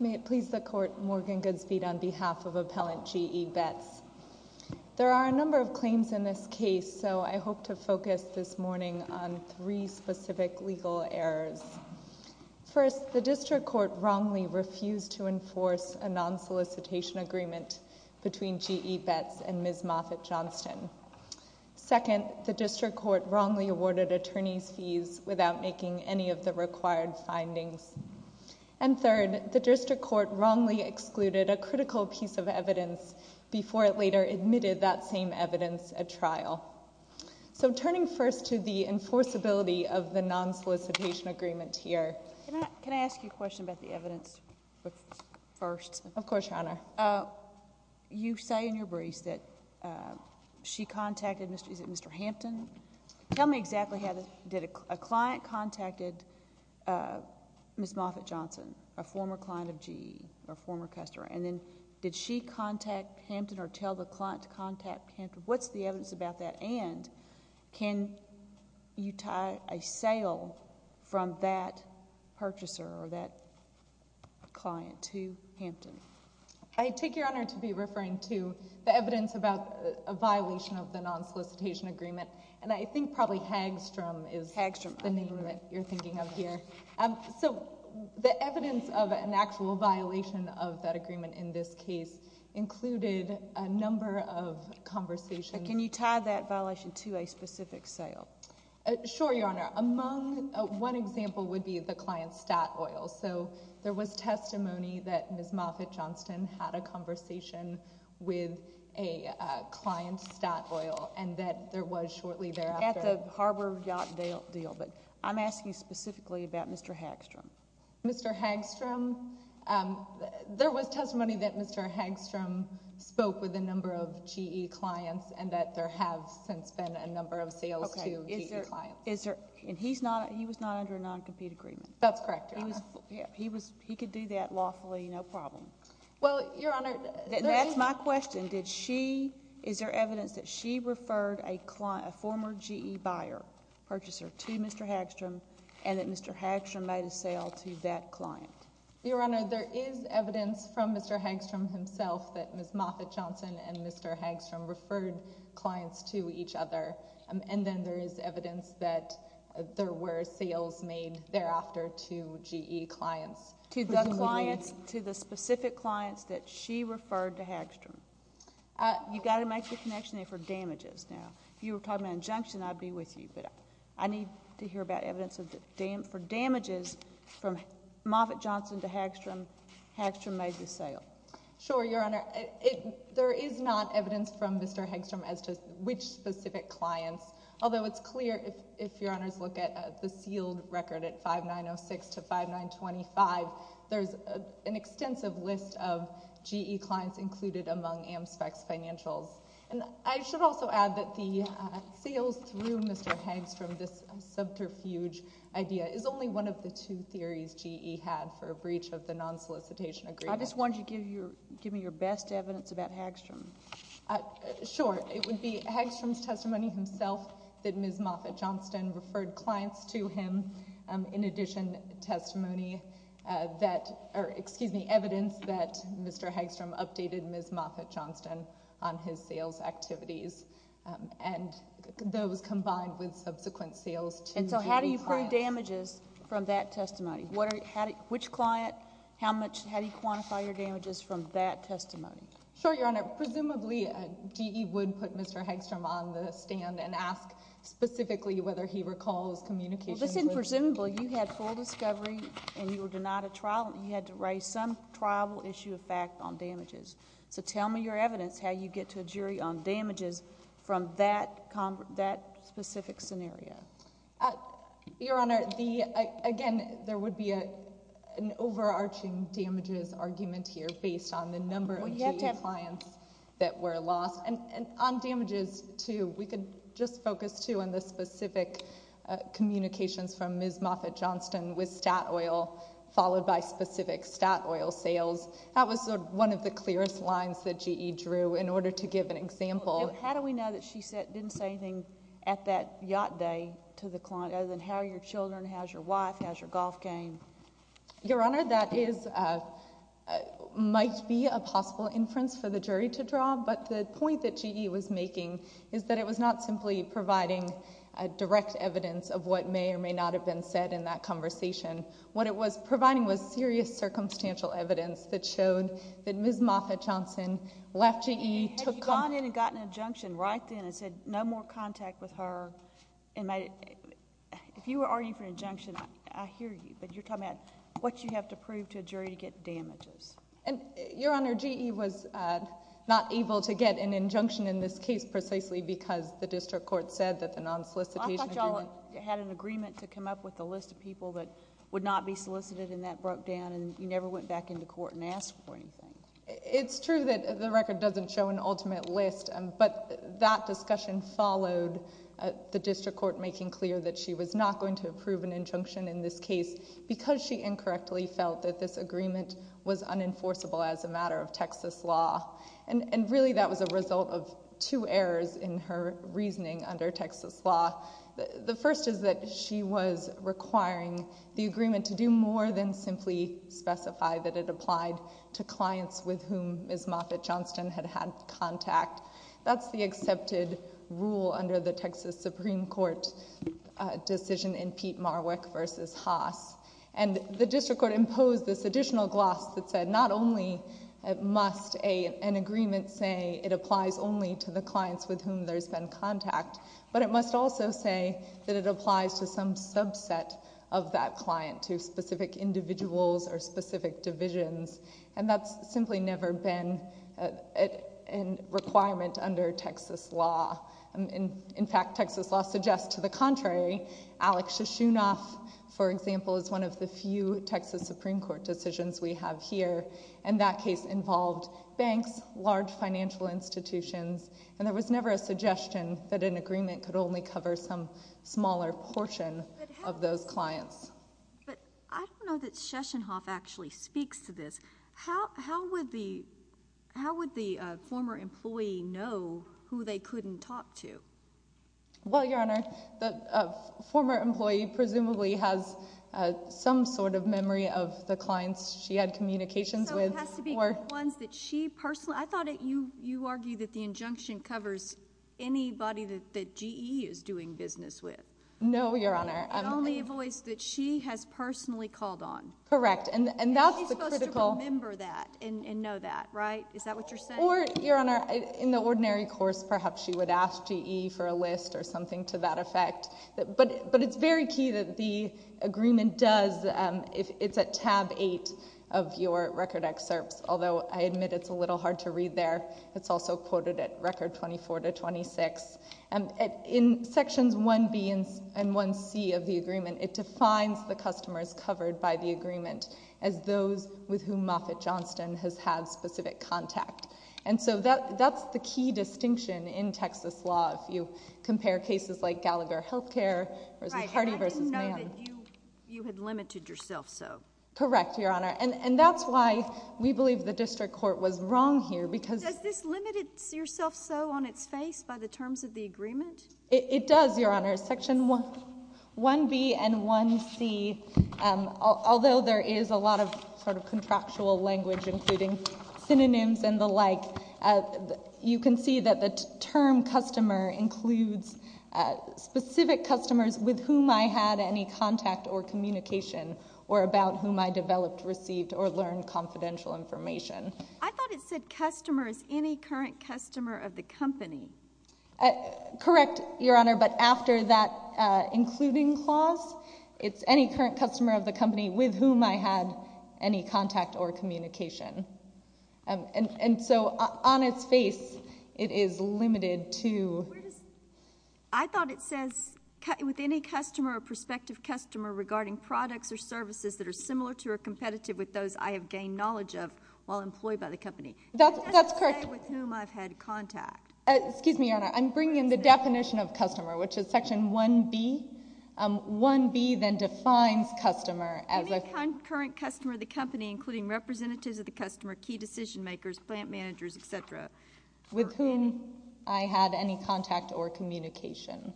May it please the Court, Morgan Goodspeed on behalf of Appellant G. E. Betz. There are a number of claims in this case, so I hope to focus this morning on three specific legal errors. First, the District Court wrongly refused to enforce a non-solicitation agreement between G. E. Betz and Ms. Moffitt-Johnston. Second, the District Court wrongly awarded attorneys' fees without making any of the required findings. And third, the District Court wrongly excluded a critical piece of evidence before it later admitted that same evidence at trial. So, turning first to the enforceability of the non-solicitation agreement here. Can I ask you a question about the evidence first? Of course, Your Honor. You say in your briefs that she contacted, is it Mr. Hampton? Tell me exactly how, did a client contacted Ms. Moffitt-Johnston, a former client of G. E., a former customer, and then did she contact Hampton or tell the client to contact Hampton? What's the evidence about that? And can you tie a sale from that purchaser or that client to Hampton? I take your honor to be referring to the evidence about a violation of the non-solicitation agreement, and I think probably Hagstrom is the name that you're thinking of here. So, the evidence of an actual violation of that agreement in this case included a number of conversations. And can you tie that violation to a specific sale? Sure, Your Honor. One example would be the client Stott Oil. So, there was testimony that Ms. Moffitt-Johnston had a conversation with a client Stott Oil and that there was shortly thereafter. At the Harbor Yacht Deal, but I'm asking specifically about Mr. Hagstrom. Mr. Hagstrom, there was testimony that Mr. Hagstrom spoke with a number of G. E. clients and that there have since been a number of sales to G. E. clients. Okay. And he was not under a non-compete agreement? That's correct, Your Honor. He could do that lawfully, no problem. Well, Your Honor, there is... That's my question. Is there evidence that she referred a former G. E. buyer, purchaser, to Mr. Hagstrom and that Mr. Hagstrom made a sale to that client? Your Honor, there is evidence from Mr. Hagstrom himself that Ms. Moffitt-Johnston and Mr. Hagstrom referred clients to each other. And then there is evidence that there were sales made thereafter to G. E. clients. To the clients, to the specific clients that she referred to Hagstrom. You got to make the connection there for damages now. If you were talking about injunction, I'd be with you. I need to hear about evidence for damages from Moffitt-Johnston to Hagstrom, Hagstrom made the sale. Sure, Your Honor. There is not evidence from Mr. Hagstrom as to which specific clients, although it's clear if Your Honors look at the sealed record at 5906 to 5925, there's an extensive list of G. E. clients included among AmSpec's financials. And I should also add that the sales through Mr. Hagstrom, this subterfuge idea, is only one of the two theories G. E. had for a breach of the non-solicitation agreement. I just want you to give me your best evidence about Hagstrom. Sure. It would be Hagstrom's testimony himself that Ms. Moffitt-Johnston referred clients to him. In addition, testimony that, or excuse me, evidence that Mr. Hagstrom updated Ms. Moffitt-Johnston on his sales activities, and those combined with subsequent sales to G. E. clients. And so how do you prove damages from that testimony? Which client, how much, how do you quantify your damages from that testimony? Sure, Your Honor. Presumably, G. E. would put Mr. Hagstrom on the stand and ask specifically whether he recalls communication. Well, this isn't presumable. You had full discovery and you were denied a trial and you had to raise some triable issue of fact on damages. So tell me your evidence how you get to a jury on damages from that specific scenario. Your Honor, again, there would be an overarching damages argument here based on the number of G. E. clients that were lost. And on damages too, we could just focus too on the specific communications from Ms. Moffitt-Johnston with Statoil followed by specific Statoil sales. That was one of the clearest lines that G. E. drew in order to give an example. How do we know that she didn't say anything at that yacht day to the client other than how your children, how's your wife, how's your golf game? Your Honor, that might be a possible inference for the jury to draw, but the point that G. E. was making is that it was not simply providing direct evidence of what may or may not have been said in that conversation. What it was providing was serious circumstantial evidence that showed that Ms. Moffitt-Johnston left G. E. to come... Had you gone in and gotten an injunction right then and said no more contact with her and made it... if you were arguing for an injunction, I hear you, but you're talking about what you have to prove to a jury to get damages. Your Honor, G. E. was not able to get an injunction in this case precisely because the district would not be solicited and that broke down and you never went back into court and asked for anything. It's true that the record doesn't show an ultimate list, but that discussion followed the district court making clear that she was not going to approve an injunction in this case because she incorrectly felt that this agreement was unenforceable as a matter of Texas law. Really that was a result of two errors in her reasoning under Texas law. The first is that she was requiring the agreement to do more than simply specify that it applied to clients with whom Ms. Moffitt-Johnston had had contact. That's the accepted rule under the Texas Supreme Court decision in Pete Marwick v. Haas. The district court imposed this additional gloss that said not only must an agreement say it applies only to the clients with whom there's been contact, but it must also say that it applies to some subset of that client, to specific individuals or specific divisions. That's simply never been a requirement under Texas law. In fact, Texas law suggests to the contrary. Alex Shishunoff, for example, is one of the few Texas Supreme Court decisions we have here, and that case involved banks, large financial institutions, and there was never a suggestion that an agreement could only cover some smaller portion of those clients. But I don't know that Shishunoff actually speaks to this. How would the former employee know who they couldn't talk to? Well, Your Honor, the former employee presumably has some sort of memory of the clients she had communications with. So it has to be ones that she personally... I thought you argued that the injunction covers anybody that GE is doing business with. No, Your Honor. And only a voice that she has personally called on. Correct. And that's the critical... And she's supposed to remember that and know that, right? Is that what you're saying? Or, Your Honor, in the ordinary course, perhaps she would ask GE for a list or something to that effect. But it's very key that the agreement does... It's at tab eight of your record excerpts, although I admit it's a little hard to read there. It's also quoted at record 24 to 26. In sections 1B and 1C of the agreement, it defines the customers covered by the agreement as those with whom Moffitt Johnston has had specific contact. And so that's the key distinction in Texas law if you compare cases like Gallagher Healthcare versus Hardy versus Mann. Right. And I didn't know that you had limited yourself so. Correct, Your Honor. And that's why we believe the district court was wrong here because... Does this limit yourself so on its face by the terms of the agreement? It does, Your Honor. Section 1B and 1C, although there is a lot of sort of contractual language including synonyms and the like, you can see that the term customer includes specific customers with whom I had any contact or communication or about whom I developed, received, or learned confidential information. I thought it said customers, any current customer of the company. Correct, Your Honor, but after that including clause, it's any current customer of the company with whom I had any contact or communication. And so on its face, it is limited to... I thought it says with any customer or prospective customer regarding products or services that are similar to or competitive with those I have gained knowledge of while employed by the company. That's correct. It doesn't say with whom I've had contact. Excuse me, Your Honor, I'm bringing in the definition of customer, which is Section 1B. 1B then defines customer as a... Any current customer of the company including representatives of the customer, key decision makers, plant managers, et cetera. With whom I had any contact or communication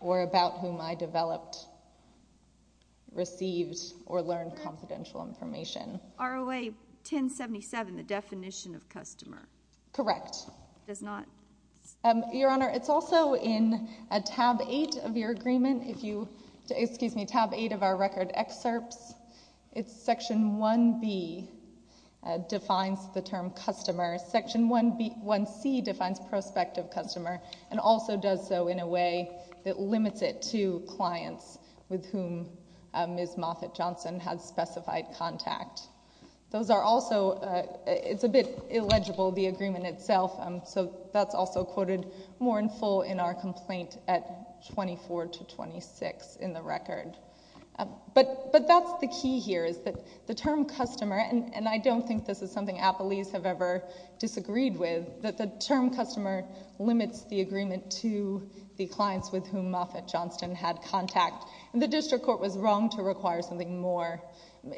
or about whom I developed, received, or learned confidential information. ROA 1077, the definition of customer. Correct. It does not... Your Honor, it's also in a tab eight of your agreement. If you... Excuse me, tab eight of our record excerpts. It's Section 1B defines the term customer. Section 1C defines prospective customer and also does so in a way that limits it to clients with whom Ms. Moffitt-Johnson has specified contact. Those are also... It's a bit illegible, the agreement itself. That's also quoted more in full in our complaint at 24 to 26 in the record. That's the key here is that the term customer, and I don't think this is something appellees have ever disagreed with, that the term customer limits the agreement to the clients with whom Moffitt-Johnson had contact. The district court was wrong to require something more.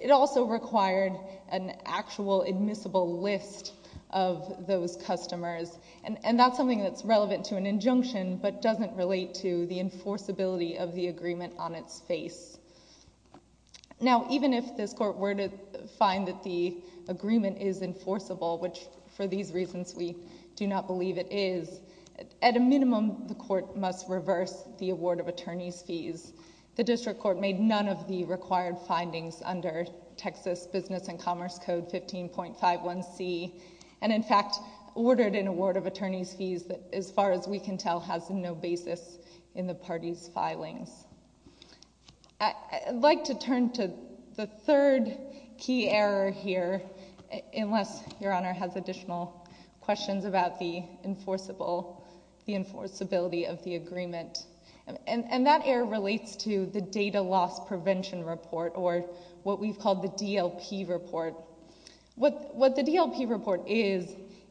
It also required an actual admissible list of those customers. That's something that's relevant to an injunction but doesn't relate to the enforceability of the agreement on its face. Even if this court were to find that the agreement is enforceable, which for these reasons we do not believe it is, at a minimum the court must reverse the award of attorney's fees. The district court made none of the required findings under Texas Business and Commerce Code 15.51c and in fact ordered an award of attorney's fees that as far as we can tell has no basis in the party's filings. I'd like to turn to the third key error here, unless Your Honor has additional questions about the enforceability of the agreement. And that error relates to the data loss prevention report or what we've called the DLP report. What the DLP report is,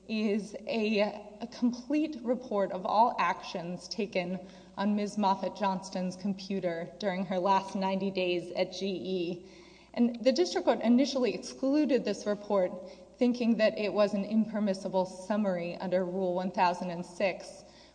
is a complete report of all actions taken on Ms. Moffitt-Johnson's computer during her last 90 days at GE. And the district court initially excluded this report thinking that it was an impermissible summary under Rule 1006,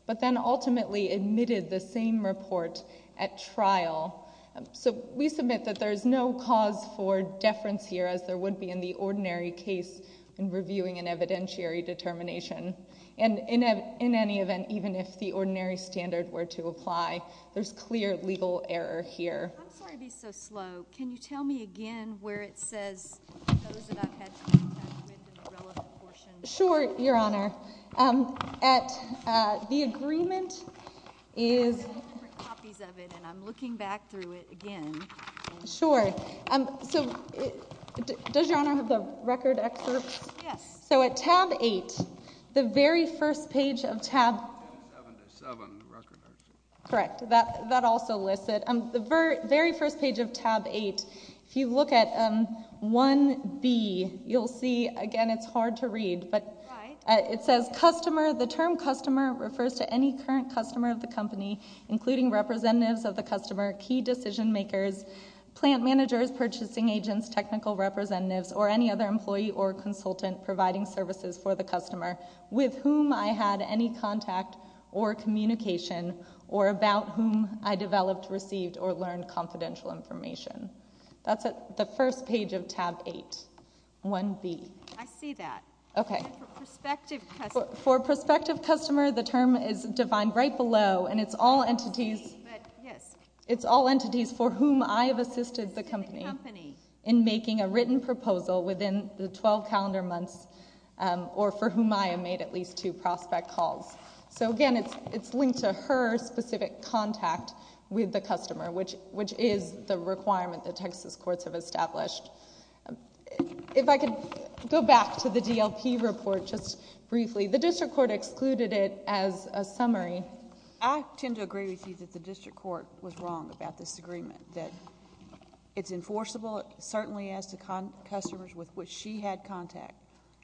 but then ultimately admitted the same report at trial. So we submit that there is no cause for deference here as there would be in the ordinary case in reviewing an evidentiary determination. And in any event, even if the ordinary standard were to apply, there's clear legal error here. I'm sorry to be so slow. Can you tell me again where it says those that have had contact with the relevant portion? Sure, Your Honor. The agreement is... I have different copies of it, and I'm looking back through it again. Sure. Does Your Honor have the record excerpt? Yes. So at tab 8, the very first page of tab... 7 to 7, the record excerpt. Correct. That also lists it. The very first page of tab 8, if you look at 1B, you'll see, again, it's hard to read, but it says customer, the term customer refers to any current customer of the company, including representatives of the customer, key decision makers, plant managers, purchasing agents, technical representatives, or any other employee or consultant providing services for the customer with whom I had any contact or communication or about whom I developed, received, or learned confidential information. That's the first page of tab 8, 1B. I see that. Okay. Prospective customer. For prospective customer, the term is defined right below, and it's all entities... It's all entities for whom I have assisted the company in making a written proposal within the 12 calendar months or for whom I have made at least two prospect calls. So again, it's linked to her specific contact with the customer, which is the requirement that Texas courts have established. If I could go back to the DLP report just briefly, the district court excluded it as a summary. I tend to agree with you that the district court was wrong about this agreement, that it's enforceable, certainly as to customers with which she had contact,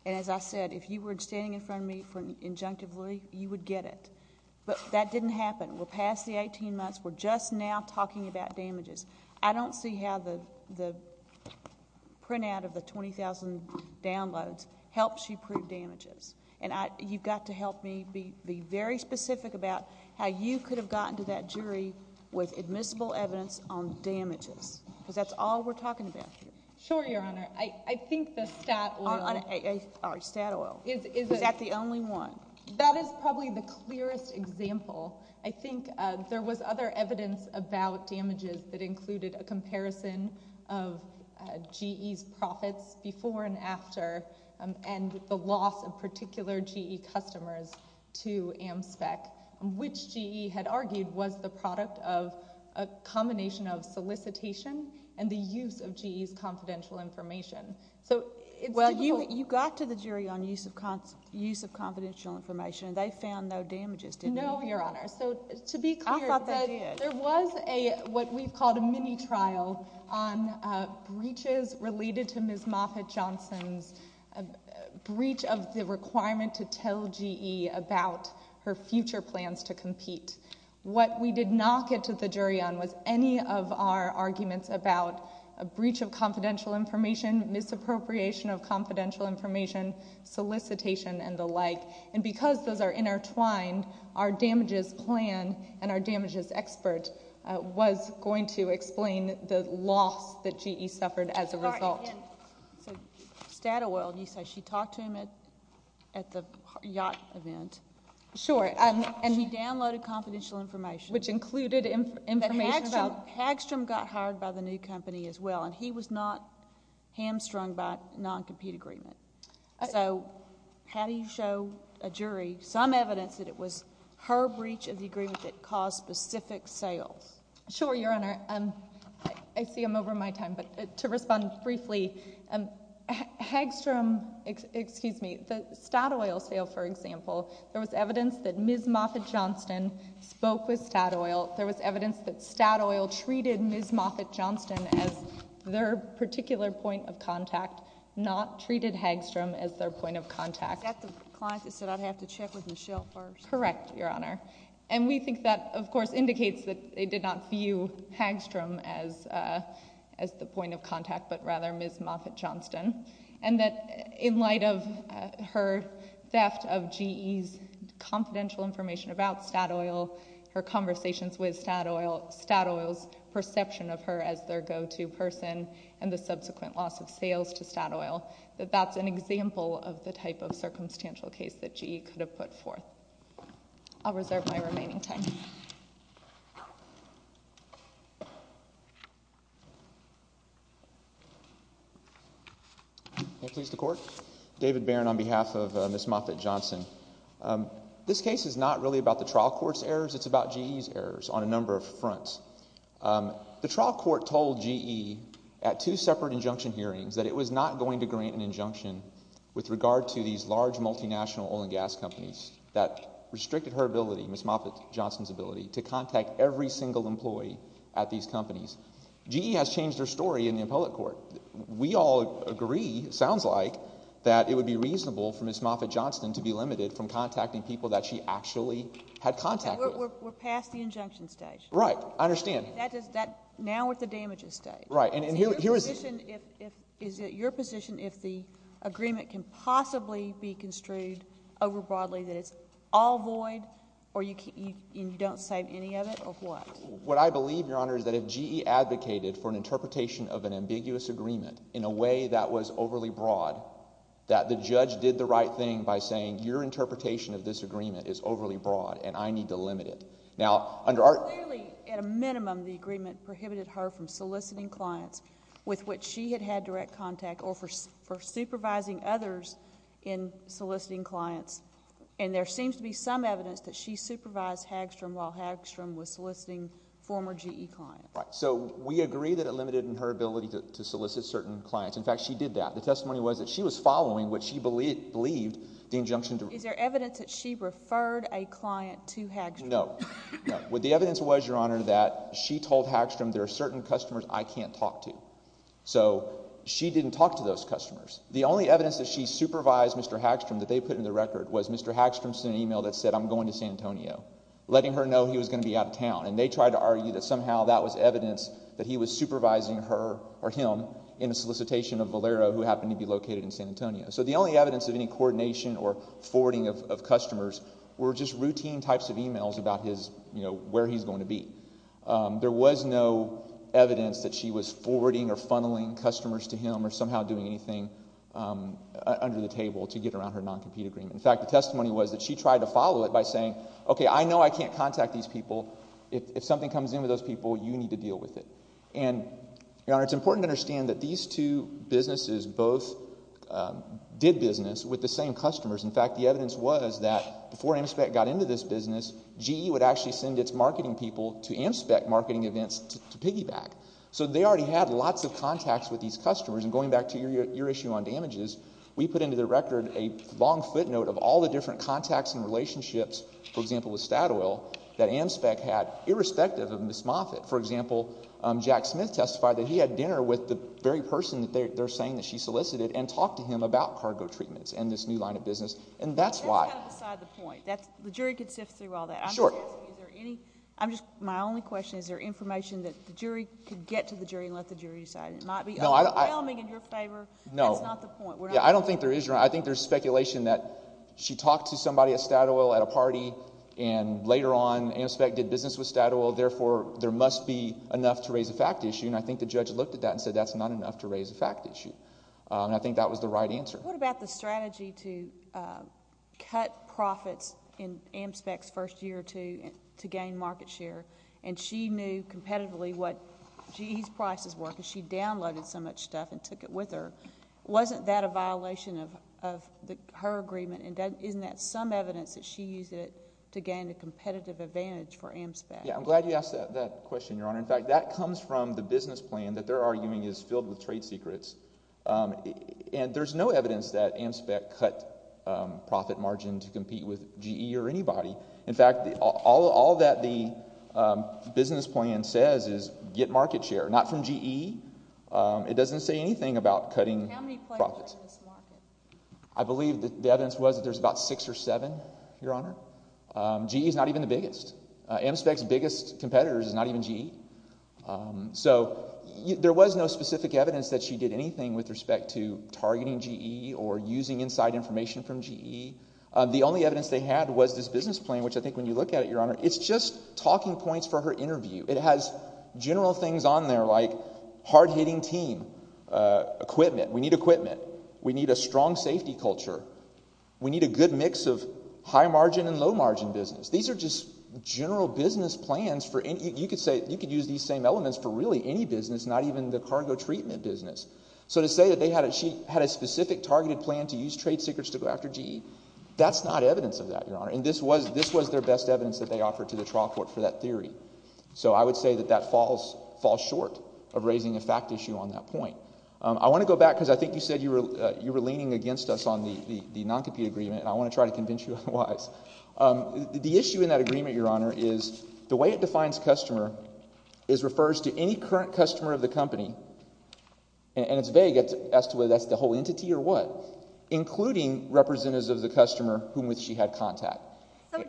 and as I said, if you were standing in front of me injunctively, you would get it, but that didn't happen. We'll pass the 18 months. We're just now talking about damages. I don't see how the printout of the 20,000 downloads helps you prove damages, and you've got to help me be very specific about how you could have gotten to that jury with admissible evidence on damages, because that's all we're talking about here. Sure, Your Honor. I think the stat... Or stat oil. Is that the only one? That is probably the clearest example. I think there was other evidence about damages that included a comparison of GE's profits before and after, and the loss of particular GE customers to AmSpec, which GE had argued was the product of a combination of solicitation and the use of GE's confidential information, so it's... Well, you got to the jury on use of confidential information, and they found no damages, didn't they? No, Your Honor. I thought they did. To be clear, there was what we've called a mini-trial on breaches related to Ms. Moffitt-Johnson's breach of the requirement to tell GE about her future plans to compete. What we did not get to the jury on was any of our arguments about a breach of confidential information, misappropriation of confidential information, solicitation, and the like, and because those are intertwined, our damages plan and our damages expert was going to explain the loss that GE suffered as a result. All right. And so stat oil, you say she talked to him at the yacht event. Sure. And he downloaded confidential information. Which included information about... That Hagstrom got hired by the new company as well, and he was not hamstrung by non-compete agreement. So how do you show a jury some evidence that it was her breach of the agreement that caused specific sales? Sure, Your Honor. I see I'm over my time, but to respond briefly, Hagstrom, excuse me, the stat oil sale, for example, there was evidence that Ms. Moffitt-Johnson spoke with stat oil. There was evidence that stat oil treated Ms. Moffitt-Johnson as their particular point of contact, not treated Hagstrom as their point of contact. Is that the client that said, I'd have to check with Michelle first? Correct, Your Honor. And we think that, of course, indicates that they did not view Hagstrom as the point of contact, but rather Ms. Moffitt-Johnson, and that in light of her theft of GE's confidential information about stat oil, her conversations with stat oil, stat oil's perception of her as their go-to person, and the subsequent loss of sales to stat oil, that that's an example of the type of circumstantial case that GE could have put forth. I'll reserve my remaining time. May it please the Court? David Barron on behalf of Ms. Moffitt-Johnson. This case is not really about the trial court's errors. It's about GE's errors on a number of fronts. The trial court told GE at two separate injunction hearings that it was not going to grant an injunction with regard to these large multinational oil and gas companies that restricted her ability, Ms. Moffitt-Johnson's ability, to contact every single employee at these companies. GE has changed their story in the appellate court. We all agree, it sounds like, that it would be reasonable for Ms. Moffitt-Johnson to be limited from contacting people that she actually had contacted. We're past the injunction stage. Right. I understand. Now we're at the damages stage. Right. Is it your position if the agreement can possibly be construed over broadly that it's all void or you don't save any of it, or what? What I believe, Your Honor, is that if GE advocated for an interpretation of an ambiguous agreement in a way that was overly broad, that the judge did the right thing by saying your interpretation of this agreement is overly broad and I need to limit it. Now, under our— Clearly, at a minimum, the agreement prohibited her from soliciting clients with which she had had direct contact or for supervising others in soliciting clients. And there seems to be some evidence that she supervised Hagstrom while Hagstrom was soliciting former GE clients. Right. So we agree that it limited her ability to solicit certain clients. In fact, she did that. The testimony was that she was following what she believed the injunction— Is there evidence that she referred a client to Hagstrom? No. What the evidence was, Your Honor, that she told Hagstrom there are certain customers I can't talk to. So she didn't talk to those customers. The only evidence that she supervised Mr. Hagstrom that they put in the record was Mr. Hagstrom sent an email that said, I'm going to San Antonio, letting her know he was going to be out of town. And they tried to argue that somehow that was evidence that he was supervising her or him in a solicitation of Valero, who happened to be located in San Antonio. So the only evidence of any coordination or forwarding of customers were just routine types of emails about his, you know, where he's going to be. There was no evidence that she was forwarding or funneling customers to him or somehow doing anything under the table to get around her non-compete agreement. In fact, the testimony was that she tried to follow it by saying, OK, I know I can't contact these people. If something comes in with those people, you need to deal with it. And Your Honor, it's important to understand that these two businesses both did business with the same customers. In fact, the evidence was that before AmSpec got into this business, GE would actually send its marketing people to AmSpec marketing events to piggyback. So they already had lots of contacts with these customers. And going back to your issue on damages, we put into the record a long footnote of all the different contacts and relationships, for example, with Statoil, that AmSpec had irrespective of Ms. Moffitt. For example, Jack Smith testified that he had dinner with the very person that they're saying that she solicited and talked to him about cargo treatments and this new line of business. And that's why... That's kind of beside the point. The jury could sift through all that. Sure. I'm just asking, is there any... I'm just... my only question, is there information that the jury could get to the jury and let the jury decide? And it might be overwhelming in your favor. No. That's not the point. We're not... Yeah, I don't think there is. Your Honor, I think there's speculation that she talked to somebody at Statoil at a party and later on, AmSpec did business with Statoil, therefore, there must be enough to raise a fact issue. And I think the judge looked at that and said that's not enough to raise a fact issue. And I think that was the right answer. What about the strategy to cut profits in AmSpec's first year or two to gain market share? And she knew competitively what GE's prices were because she downloaded so much stuff and took it with her. Wasn't that a violation of her agreement and isn't that some evidence that she used it to gain a competitive advantage for AmSpec? Yeah. I'm glad you asked that question, Your Honor. In fact, that comes from the business plan that they're arguing is filled with trade secrets. And there's no evidence that AmSpec cut profit margin to compete with GE or anybody. In fact, all that the business plan says is get market share, not from GE. It doesn't say anything about cutting profits. How many players are in this market? I believe the evidence was that there's about six or seven, Your Honor. GE's not even the biggest. AmSpec's biggest competitors is not even GE. So, there was no specific evidence that she did anything with respect to targeting GE or using inside information from GE. The only evidence they had was this business plan, which I think when you look at it, Your Honor, it's just talking points for her interview. It has general things on there like hard-hitting team, equipment. We need equipment. We need a strong safety culture. We need a good mix of high margin and low margin business. These are just general business plans. You could use these same elements for really any business, not even the cargo treatment business. So, to say that she had a specific targeted plan to use trade secrets to go after GE, that's not evidence of that, Your Honor, and this was their best evidence that they offered to the trial court for that theory. So, I would say that that falls short of raising a fact issue on that point. I want to go back, because I think you said you were leaning against us on the non-compete agreement, and I want to try to convince you otherwise. The issue in that agreement, Your Honor, is the way it defines customer is refers to any current customer of the company, and it's vague as to whether that's the whole entity or what, including representatives of the customer whom she had contact. So,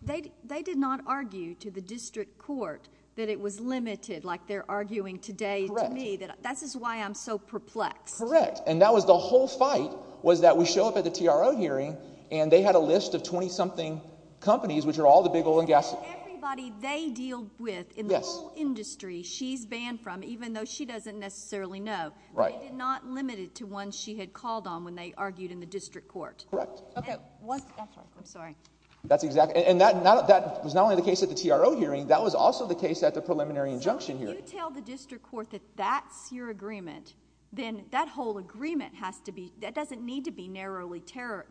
they did not argue to the district court that it was limited, like they're arguing today to me, that this is why I'm so perplexed. Correct, and that was the whole fight was that we show up at the TRO hearing and they had a list of 20-something companies, which are all the big oil and gas companies. Everybody they deal with in the whole industry she's banned from, even though she doesn't necessarily know, they did not limit it to one she had called on when they argued in the district court. Correct. That's right. I'm sorry. And that was not only the case at the TRO hearing, that was also the case at the preliminary injunction hearing. So, you tell the district court that that's your agreement, then that whole agreement has to be... that doesn't need to be narrowly...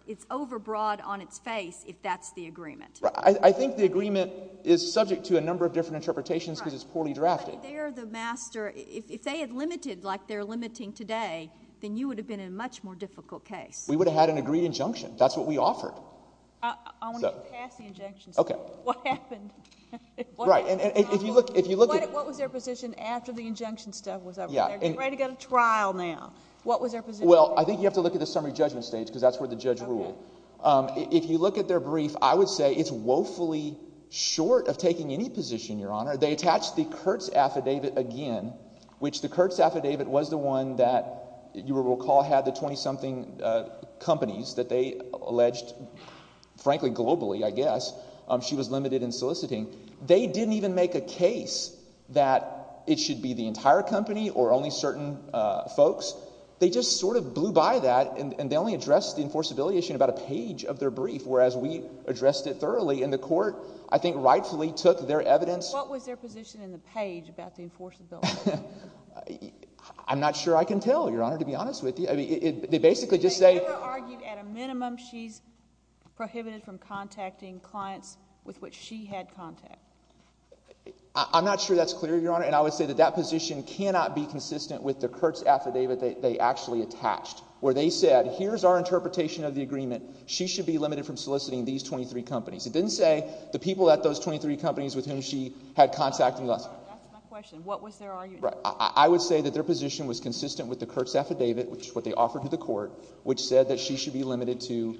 it's overbroad on its face if that's the agreement. Right. I think the agreement is subject to a number of different interpretations because it's poorly drafted. Right. But they are the master. If they had limited like they're limiting today, then you would have been in a much more difficult case. We would have had an agreed injunction. That's what we offered. I want you to pass the injunction. Okay. What happened? Right. And if you look... What was their position after the injunction stuff was over there? Yeah. They're ready to go to trial now. What was their position? Well, I think you have to look at the summary judgment stage because that's where the judge ruled. Okay. If you look at their brief, I would say it's woefully short of taking any position, Your Honor. They attached the Kurtz Affidavit again, which the Kurtz Affidavit was the one that you will recall had the 20-something companies that they alleged, frankly, globally, I guess, she was limited in soliciting. They didn't even make a case that it should be the entire company or only certain folks. They just sort of blew by that, and they only addressed the enforceability issue in about a page of their brief, whereas we addressed it thoroughly, and the court, I think, rightfully took their evidence... What was their position in the page about the enforceability issue? I'm not sure I can tell, Your Honor, to be honest with you. They basically just say... I'm not sure that's clear, Your Honor, and I would say that that position cannot be consistent with the Kurtz Affidavit that they actually attached, where they said, here's our interpretation of the agreement. She should be limited from soliciting these 23 companies. It didn't say the people at those 23 companies with whom she had contact in the last... That's my question. What was their argument? Right. I would say that their position was consistent with the Kurtz Affidavit, which is what they offered to the court, which said that she should be limited to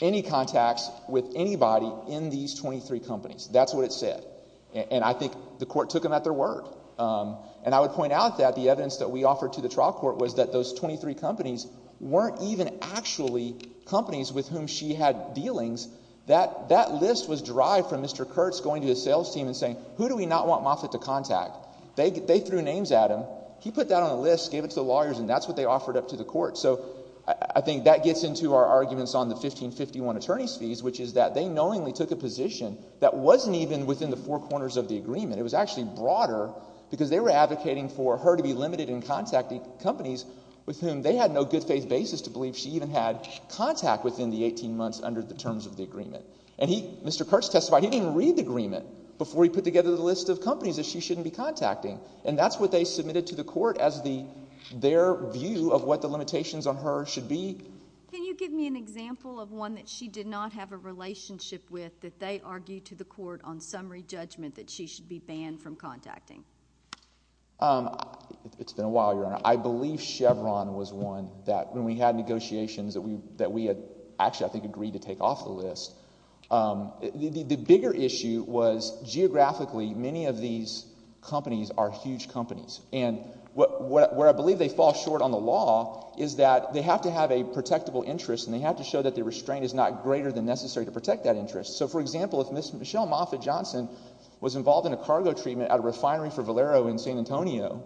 any contacts with anybody in these 23 companies. That's what it said. And I think the court took them at their word. And I would point out that the evidence that we offered to the trial court was that those 23 companies weren't even actually companies with whom she had dealings. That list was derived from Mr. Kurtz going to his sales team and saying, who do we not want Moffitt to contact? They threw names at him. He put that on the list, gave it to the lawyers, and that's what they offered up to the court. So I think that gets into our arguments on the 1551 attorney's fees, which is that they unknowingly took a position that wasn't even within the four corners of the agreement. It was actually broader because they were advocating for her to be limited in contacting companies with whom they had no good faith basis to believe she even had contact within the 18 months under the terms of the agreement. And Mr. Kurtz testified he didn't even read the agreement before he put together the list of companies that she shouldn't be contacting. And that's what they submitted to the court as their view of what the limitations on her should be. Can you give me an example of one that she did not have a relationship with that they argued to the court on summary judgment that she should be banned from contacting? It's been a while, Your Honor. I believe Chevron was one that when we had negotiations that we had actually I think agreed to take off the list. The bigger issue was geographically many of these companies are huge companies. And where I believe they fall short on the law is that they have to have a protectable interest and they have to show that the restraint is not greater than necessary to protect that interest. So, for example, if Ms. Michelle Moffitt Johnson was involved in a cargo treatment at a refinery for Valero in San Antonio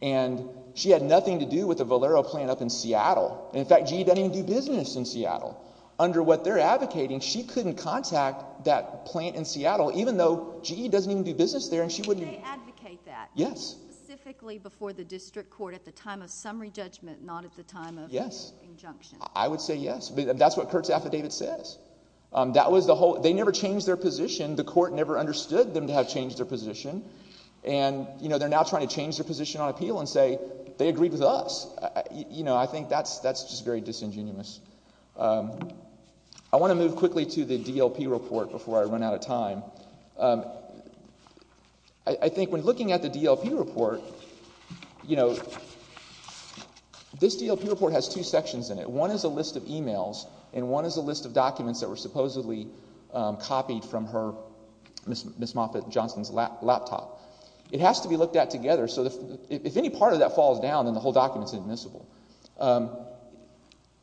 and she had nothing to do with the Valero plant up in Seattle and, in fact, GE doesn't even do business in Seattle, under what they're advocating she couldn't contact that plant in Seattle even though GE doesn't even do business there and she wouldn't. Do they advocate that? Yes. Specifically before the district court at the time of summary judgment, not at the time of injunction? Yes. I would say yes. That's what Kurt's affidavit says. That was the whole, they never changed their position. The court never understood them to have changed their position and, you know, they're now trying to change their position on appeal and say they agreed with us. You know, I think that's just very disingenuous. I want to move quickly to the DLP report before I run out of time. I think when looking at the DLP report, you know, this DLP report has two sections in it. One is a list of emails and one is a list of documents that were supposedly copied from her, Ms. Moffitt-Johnson's laptop. It has to be looked at together so if any part of that falls down then the whole document is admissible.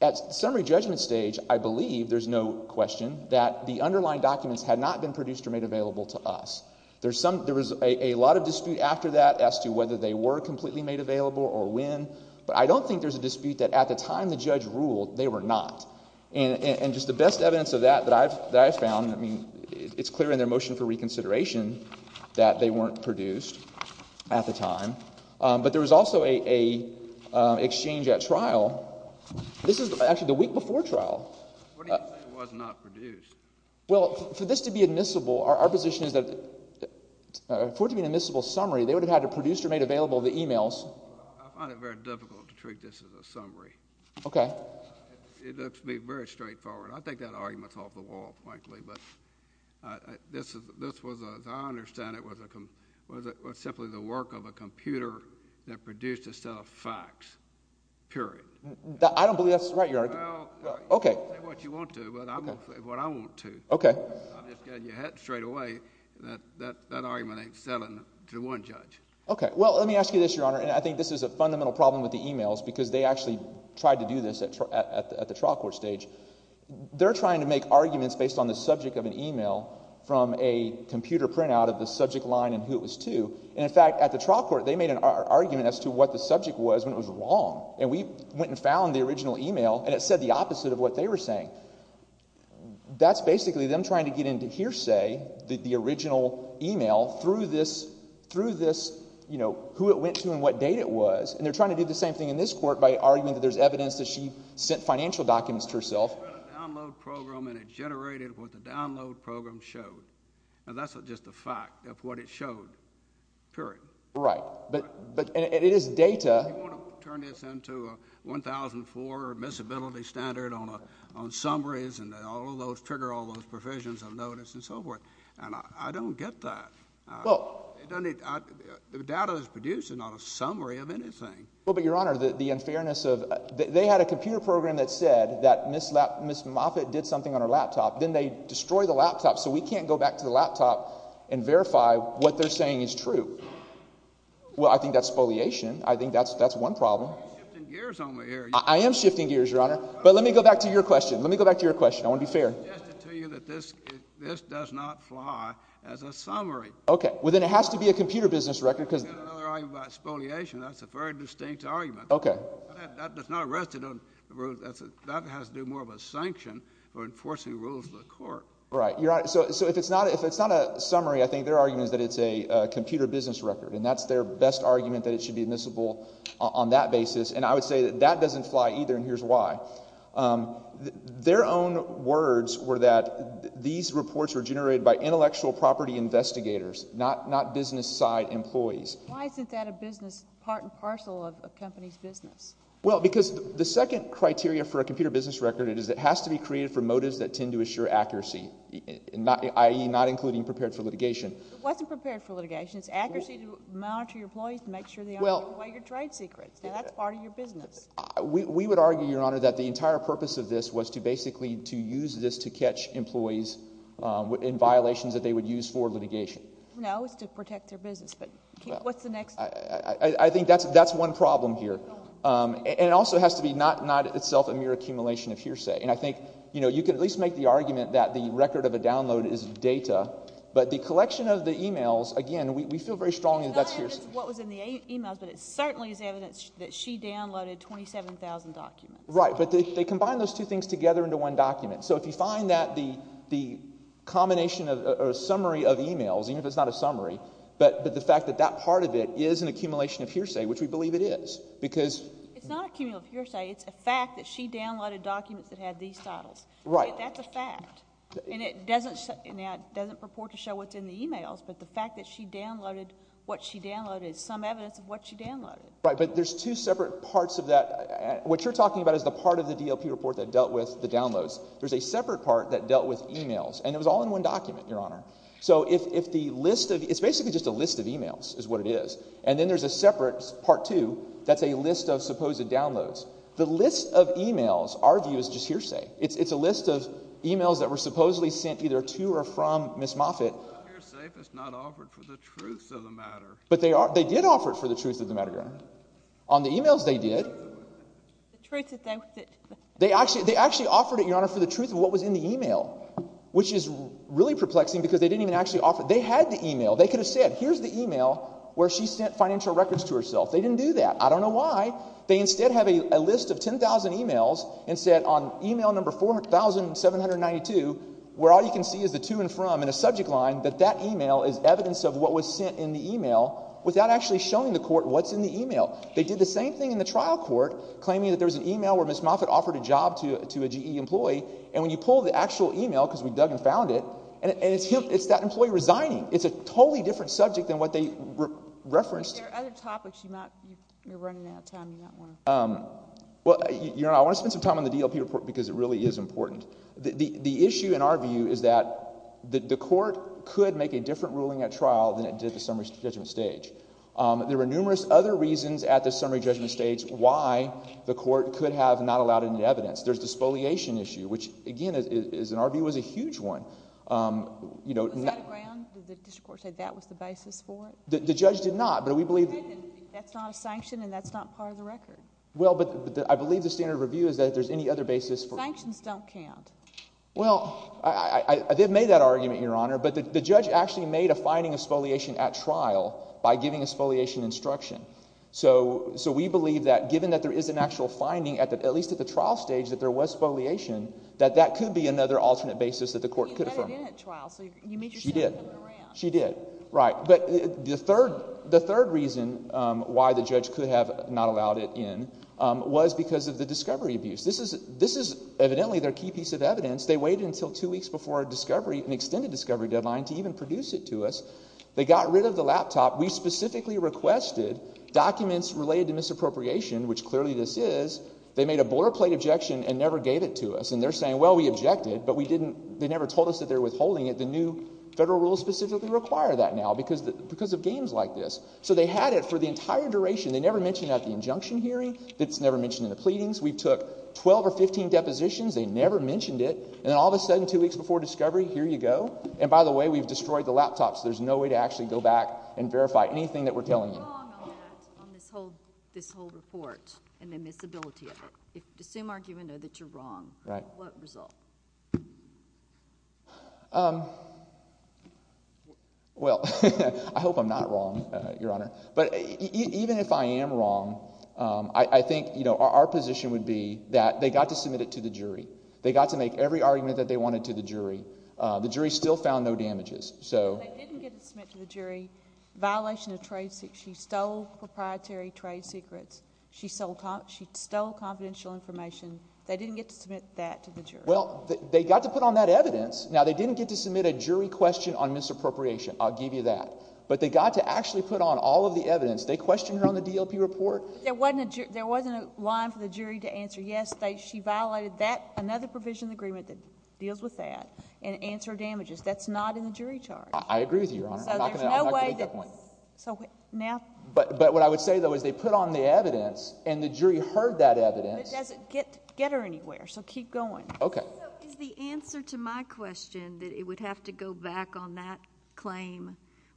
At summary judgment stage, I believe, there's no question, that the underlying documents had not been produced or made available to us. There's some, there was a lot of dispute after that as to whether they were completely made available or when, but I don't think there's a dispute that at the time the judge ruled they were not. And just the best evidence of that that I've found, I mean, it's clear in their motion for reconsideration that they weren't produced at the time. But there was also a exchange at trial. This is actually the week before trial. What do you mean it was not produced? Well, for this to be admissible, our position is that for it to be an admissible summary, they would have had to produce or made available the emails. I find it very difficult to treat this as a summary. Okay. It looks to me very straightforward. I think that argument's off the wall, frankly, but this was, as I understand it, was simply the work of a computer that produced a set of facts, period. I don't believe that's right, Your Honor. Well, you can say what you want to, but I'm going to say what I want to. Okay. I'm just getting your hat straight away that that argument ain't selling to one judge. Okay. Well, let me ask you this, Your Honor, and I think this is a fundamental problem with the emails because they actually tried to do this at the trial court stage. They're trying to make arguments based on the subject of an email from a computer printout of the subject line and who it was to, and in fact, at the trial court, they made an argument as to what the subject was when it was wrong, and we went and found the original email and it said the opposite of what they were saying. That's basically them trying to get into hearsay, the original email, through this, you know, who it went to and what date it was, and they're trying to do the same thing in this court by arguing that there's evidence that she sent financial documents to herself. She read a download program and it generated what the download program showed, and that's just a fact of what it showed, period. Right. But it is data. You want to turn this into a 1004 or a miscibility standard on summaries and all of those trigger all of those provisions of notice and so forth, and I don't get that. Well. It doesn't need, the data that's produced is not a summary of anything. Well, but, Your Honor, the unfairness of, they had a computer program that said that Ms. Moffitt did something on her laptop, then they destroy the laptop, so we can't go back to the laptop and verify what they're saying is true. Well, I think that's spoliation. I think that's one problem. You're shifting gears on me here. I am shifting gears, Your Honor. But let me go back to your question. Let me go back to your question. I want to be fair. She has to tell you that this does not fly as a summary. Okay. Well, then it has to be a computer business record, because. You've got another argument about spoliation. That's a very distinct argument. Okay. That does not rest on the rules. That has to do more with sanction or enforcing rules of the court. Right. Well, Your Honor, so if it's not a summary, I think their argument is that it's a computer business record. And that's their best argument, that it should be admissible on that basis. And I would say that that doesn't fly either, and here's why. Their own words were that these reports were generated by intellectual property investigators, not business side employees. Why isn't that a business part and parcel of a company's business? Well, because the second criteria for a computer business record is it has to be created for litigation. I.e., not including prepared for litigation. It wasn't prepared for litigation. It's accuracy to monitor your employees to make sure they aren't giving away your trade secrets. Now, that's part of your business. We would argue, Your Honor, that the entire purpose of this was to basically to use this to catch employees in violations that they would use for litigation. No, it's to protect their business, but what's the next? I think that's one problem here. And it also has to be not itself a mere accumulation of hearsay. And I think, you know, you could at least make the argument that the record of a download is data, but the collection of the e-mails, again, we feel very strongly that's hearsay. No, it's what was in the e-mails, but it certainly is evidence that she downloaded 27,000 documents. Right. But they combine those two things together into one document. So if you find that the combination or summary of e-mails, even if it's not a summary, but the fact that that part of it is an accumulation of hearsay, which we believe it is, because It's not accumulation of hearsay. It's a fact that she downloaded documents that had these titles. Right. That's a fact. And it doesn't purport to show what's in the e-mails, but the fact that she downloaded what she downloaded is some evidence of what she downloaded. Right, but there's two separate parts of that. What you're talking about is the part of the DLP report that dealt with the downloads. There's a separate part that dealt with e-mails, and it was all in one document, Your Honor. So if the list of, it's basically just a list of e-mails is what it is. And then there's a separate, part two, that's a list of supposed downloads. The list of e-mails, our view, is just hearsay. It's a list of e-mails that were supposedly sent either to or from Ms. Moffitt. But they did offer it for the truth of the matter, Your Honor. On the e-mails, they did. They actually offered it, Your Honor, for the truth of what was in the e-mail, which is really perplexing because they didn't even actually offer it. They had the e-mail. They could have said, here's the e-mail. Where she sent financial records to herself. They didn't do that. I don't know why. They instead have a list of 10,000 e-mails and said on e-mail number 4792, where all you can see is the to and from and a subject line, that that e-mail is evidence of what was sent in the e-mail without actually showing the court what's in the e-mail. They did the same thing in the trial court, claiming that there was an e-mail where Ms. Moffitt offered a job to a GE employee, and when you pull the actual e-mail, because we dug and found it, and it's that employee resigning. It's a totally different subject than what they referenced. But there are other topics you might, you're running out of time, you might want to. Well, Your Honor, I want to spend some time on the DLP report because it really is important. The issue, in our view, is that the court could make a different ruling at trial than it did at the summary judgment stage. There were numerous other reasons at the summary judgment stage why the court could have not allowed any evidence. There's the spoliation issue, which again, in our view, is a huge one. Was that a ground? Did the district court say that was the basis for it? The judge did not, but we believe... You said that that's not a sanction and that's not part of the record. Well, but I believe the standard of review is that if there's any other basis for... Sanctions don't count. Well, they've made that argument, Your Honor, but the judge actually made a finding of spoliation at trial by giving a spoliation instruction. So we believe that given that there is an actual finding, at least at the trial stage, that there was spoliation, that that could be another alternate basis that the court could have... But you let it in at trial. So you made your statement coming around. She did. She did. Right. But the third reason why the judge could have not allowed it in was because of the discovery abuse. This is evidently their key piece of evidence. They waited until two weeks before an extended discovery deadline to even produce it to us. They got rid of the laptop. We specifically requested documents related to misappropriation, which clearly this is. They made a border plate objection and never gave it to us. And they're saying, well, we objected, but we didn't... they never told us that they were withholding it. The new federal rules specifically require that now because of games like this. So they had it for the entire duration. They never mentioned it at the injunction hearing. It's never mentioned in the pleadings. We took 12 or 15 depositions. They never mentioned it. And then all of a sudden, two weeks before discovery, here you go. And by the way, we've destroyed the laptops. There's no way to actually go back and verify anything that we're telling you. You're wrong on that, on this whole report and the misability of it. If the same argument is that you're wrong, what result? Well, I hope I'm not wrong, Your Honor. But even if I am wrong, I think, you know, our position would be that they got to submit it to the jury. They got to make every argument that they wanted to the jury. The jury still found no damages. So... They didn't get to submit to the jury violation of trade secrets. She stole proprietary trade secrets. She stole confidential information. They didn't get to submit that to the jury. Well, they got to put on that evidence. Now, they didn't get to submit a jury question on misappropriation. I'll give you that. But they got to actually put on all of the evidence. They questioned her on the DLP report. There wasn't a line for the jury to answer yes, she violated that, another provision in the agreement that deals with that, and answer damages. That's not in the jury charge. I agree with you, Your Honor. I'm not going to make that point. So now... But what I would say, though, is they put on the evidence, and the jury heard that evidence. But does it get her anywhere? So keep going. Okay. So is the answer to my question that it would have to go back on that claim,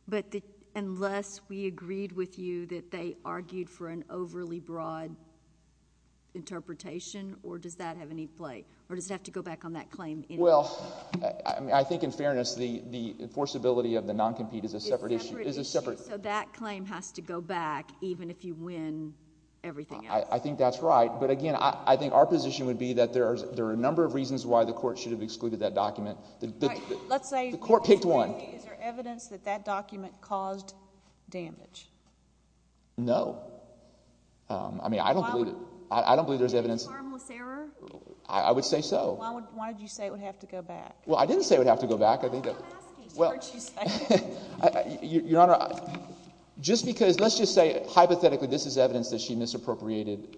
but unless we agreed with you that they argued for an overly broad interpretation, or does that have any play? Or does it have to go back on that claim anyway? Well, I think in fairness, the enforceability of the noncompete is a separate issue. So that claim has to go back, even if you win everything else? I think that's right. But again, I think our position would be that there are a number of reasons why the court should have excluded that document. Let's say... The court picked one. Is there evidence that that document caused damage? No. I mean, I don't believe there's evidence... Was it a harmless error? I would say so. Why did you say it would have to go back? Well, I didn't say it would have to go back. I think that... I'm asking. Well, Your Honor, just because... let's just say, hypothetically, this is evidence that she misappropriated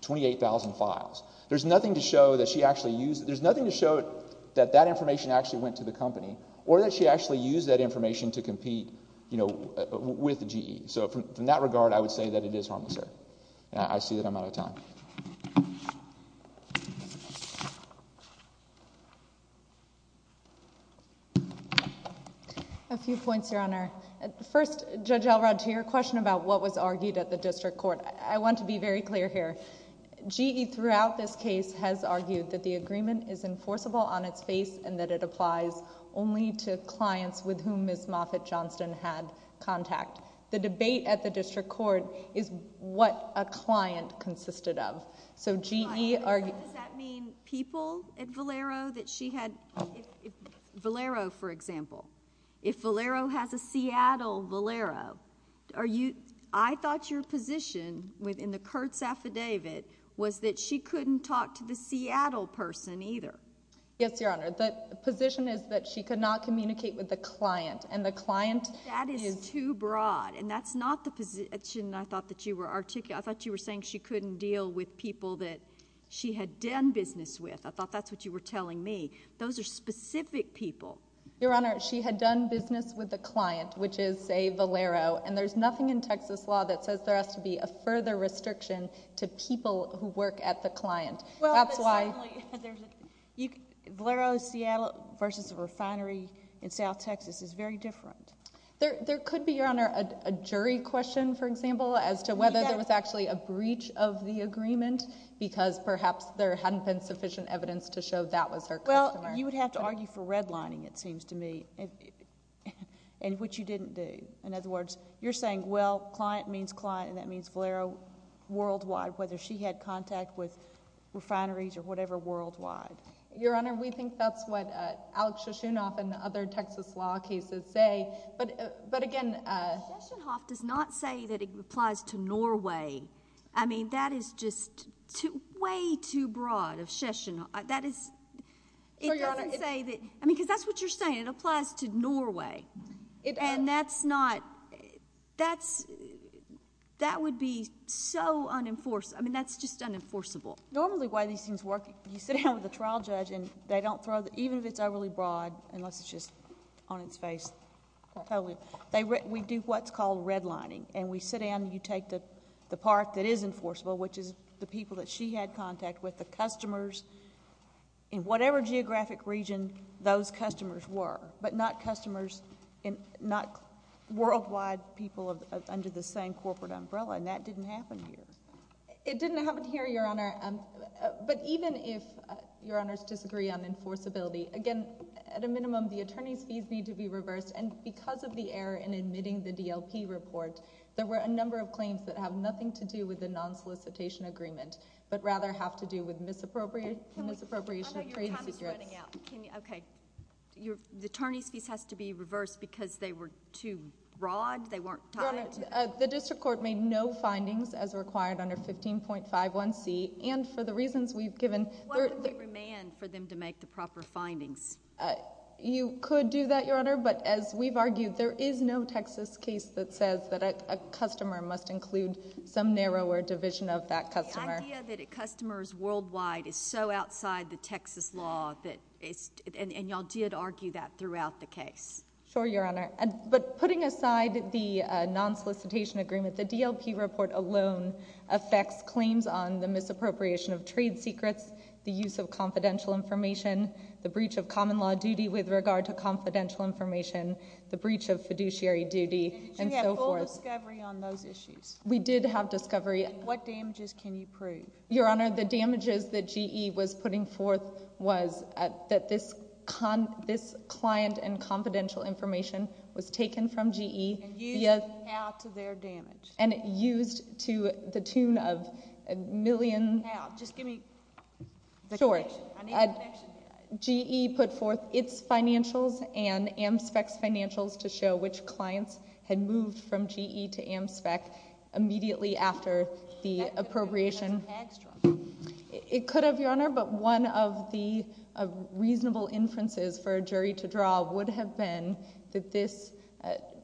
28,000 files. There's nothing to show that she actually used... there's nothing to show that that information actually went to the company, or that she actually used that information to compete, you know, with GE. So from that regard, I would say that it is harmless error. I see that I'm out of time. A few points, Your Honor. First, Judge Elrod, to your question about what was argued at the district court, I want to be very clear here. GE, throughout this case, has argued that the agreement is enforceable on its face and that it applies only to clients with whom Ms. Moffitt Johnston had contact. The debate at the district court is what a client consisted of. So GE... For example, if Valero has a Seattle Valero, are you... I thought your position within the Kurtz affidavit was that she couldn't talk to the Seattle person, either. Yes, Your Honor. The position is that she could not communicate with the client, and the client... That is too broad, and that's not the position I thought that you were... I thought you were saying she couldn't deal with people that she had done business with. I thought that's what you were telling me. Those are specific people. Your Honor, she had done business with the client, which is, say, Valero, and there's nothing in Texas law that says there has to be a further restriction to people who work at the client. That's why... Well, but certainly, Valero, Seattle versus a refinery in South Texas is very different. There could be, Your Honor, a jury question, for example, as to whether there was actually a breach of the agreement, because perhaps there hadn't been sufficient evidence to show that was her customer. You would have to argue for redlining, it seems to me, which you didn't do. In other words, you're saying, well, client means client, and that means Valero worldwide, whether she had contact with refineries or whatever worldwide. Your Honor, we think that's what Alex Shishunoff and other Texas law cases say, but again... Shishunoff does not say that it applies to Norway. I mean, that is just way too broad of Shishunoff. That is... So, Your Honor... It doesn't say that... I mean, because that's what you're saying. It applies to Norway, and that's not... that would be so unenforced. I mean, that's just unenforceable. Normally, the way these things work, you sit down with the trial judge, and they don't throw... even if it's overly broad, unless it's just on its face, totally. We do what's called redlining, and we sit down, and you take the part that is enforceable, which is the people that she had contact with, the customers, in whatever geographic region those customers were, but not customers... not worldwide people under the same corporate umbrella, and that didn't happen here. It didn't happen here, Your Honor, but even if Your Honors disagree on enforceability, again, at a minimum, the attorney's fees need to be reversed, and because of the error in admitting the DLP report, there were a number of claims that have nothing to do with the non-solicitation agreement, but rather have to do with misappropriation of trade secrets. I know your time is running out. Okay. The attorney's fees has to be reversed because they were too broad? They weren't tied? Your Honor, the district court made no findings as required under 15.51c, and for the reasons we've given... Why don't we remand for them to make the proper findings? You could do that, Your Honor, but as we've argued, there is no Texas case that says that a customer must include some narrower division of that customer. The idea that a customer is worldwide is so outside the Texas law that it's... and y'all did argue that throughout the case. Sure, Your Honor, but putting aside the non-solicitation agreement, the DLP report alone affects claims on the misappropriation of trade secrets, the use of confidential information, the breach of common law duty with regard to confidential information, the breach of fiduciary duty, and so forth. Did you have full discovery on those issues? We did have discovery. And what damages can you prove? Your Honor, the damages that GE was putting forth was that this client and confidential information was taken from GE... And used to how to their damage? And used to the tune of a million... How? Just give me the connection. Sure. I need the connection. GE put forth its financials and AmSpec's financials to show which clients had moved from GE to AmSpec immediately after the appropriation. It could have, Your Honor, but one of the reasonable inferences for a jury to draw would have been that this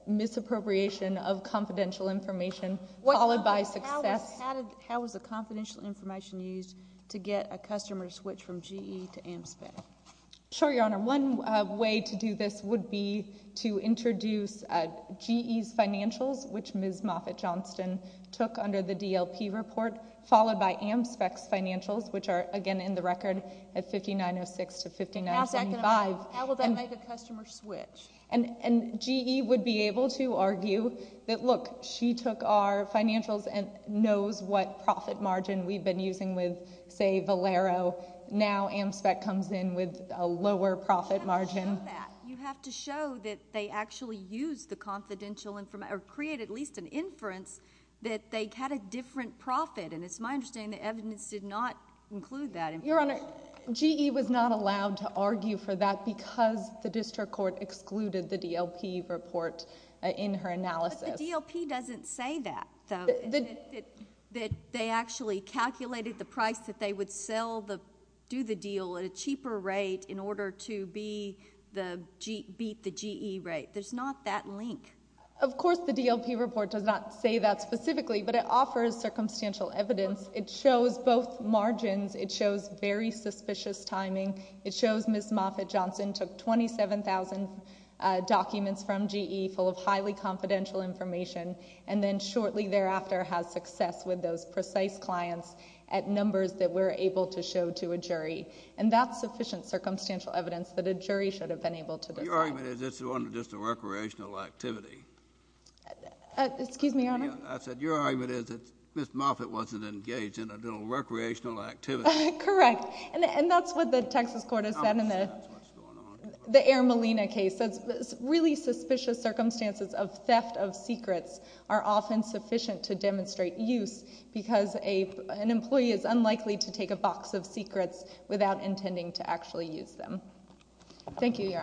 misappropriation of confidential information followed by success... Sure, Your Honor. One way to do this would be to introduce GE's financials, which Ms. Moffitt Johnston took under the DLP report, followed by AmSpec's financials, which are, again, in the record at 5906 to 5975... How's that going to... And... How will that make a customer switch? And GE would be able to argue that, look, she took our financials and knows what profit margin we've been using with, say, Valero. Now, AmSpec comes in with a lower profit margin. You have to show that. You have to show that they actually used the confidential... or create at least an inference that they had a different profit, and it's my understanding the evidence did not include that inference. Your Honor, GE was not allowed to argue for that because the district court excluded the DLP report in her analysis. But the DLP doesn't say that, though, that they actually calculated the price that they would sell the... do the deal at a cheaper rate in order to beat the GE rate. There's not that link. Of course, the DLP report does not say that specifically, but it offers circumstantial evidence. It shows both margins. It shows very suspicious timing. It shows Ms. Moffitt Johnston took 27,000 documents from GE full of highly confidential information and then shortly thereafter has success with those precise clients at numbers that we're able to show to a jury. And that's sufficient circumstantial evidence that a jury should have been able to decide. Your argument is it's just a recreational activity. Excuse me, Your Honor? I said your argument is that Ms. Moffitt wasn't engaged in a little recreational activity. Correct. And that's what the Texas court has said in the... I'm upset. That's what's going on here. The Air Molina case. That's really suspicious circumstances of theft of secrets are often sufficient to demonstrate use because an employee is unlikely to take a box of secrets without intending to actually use them. Thank you, Your Honors.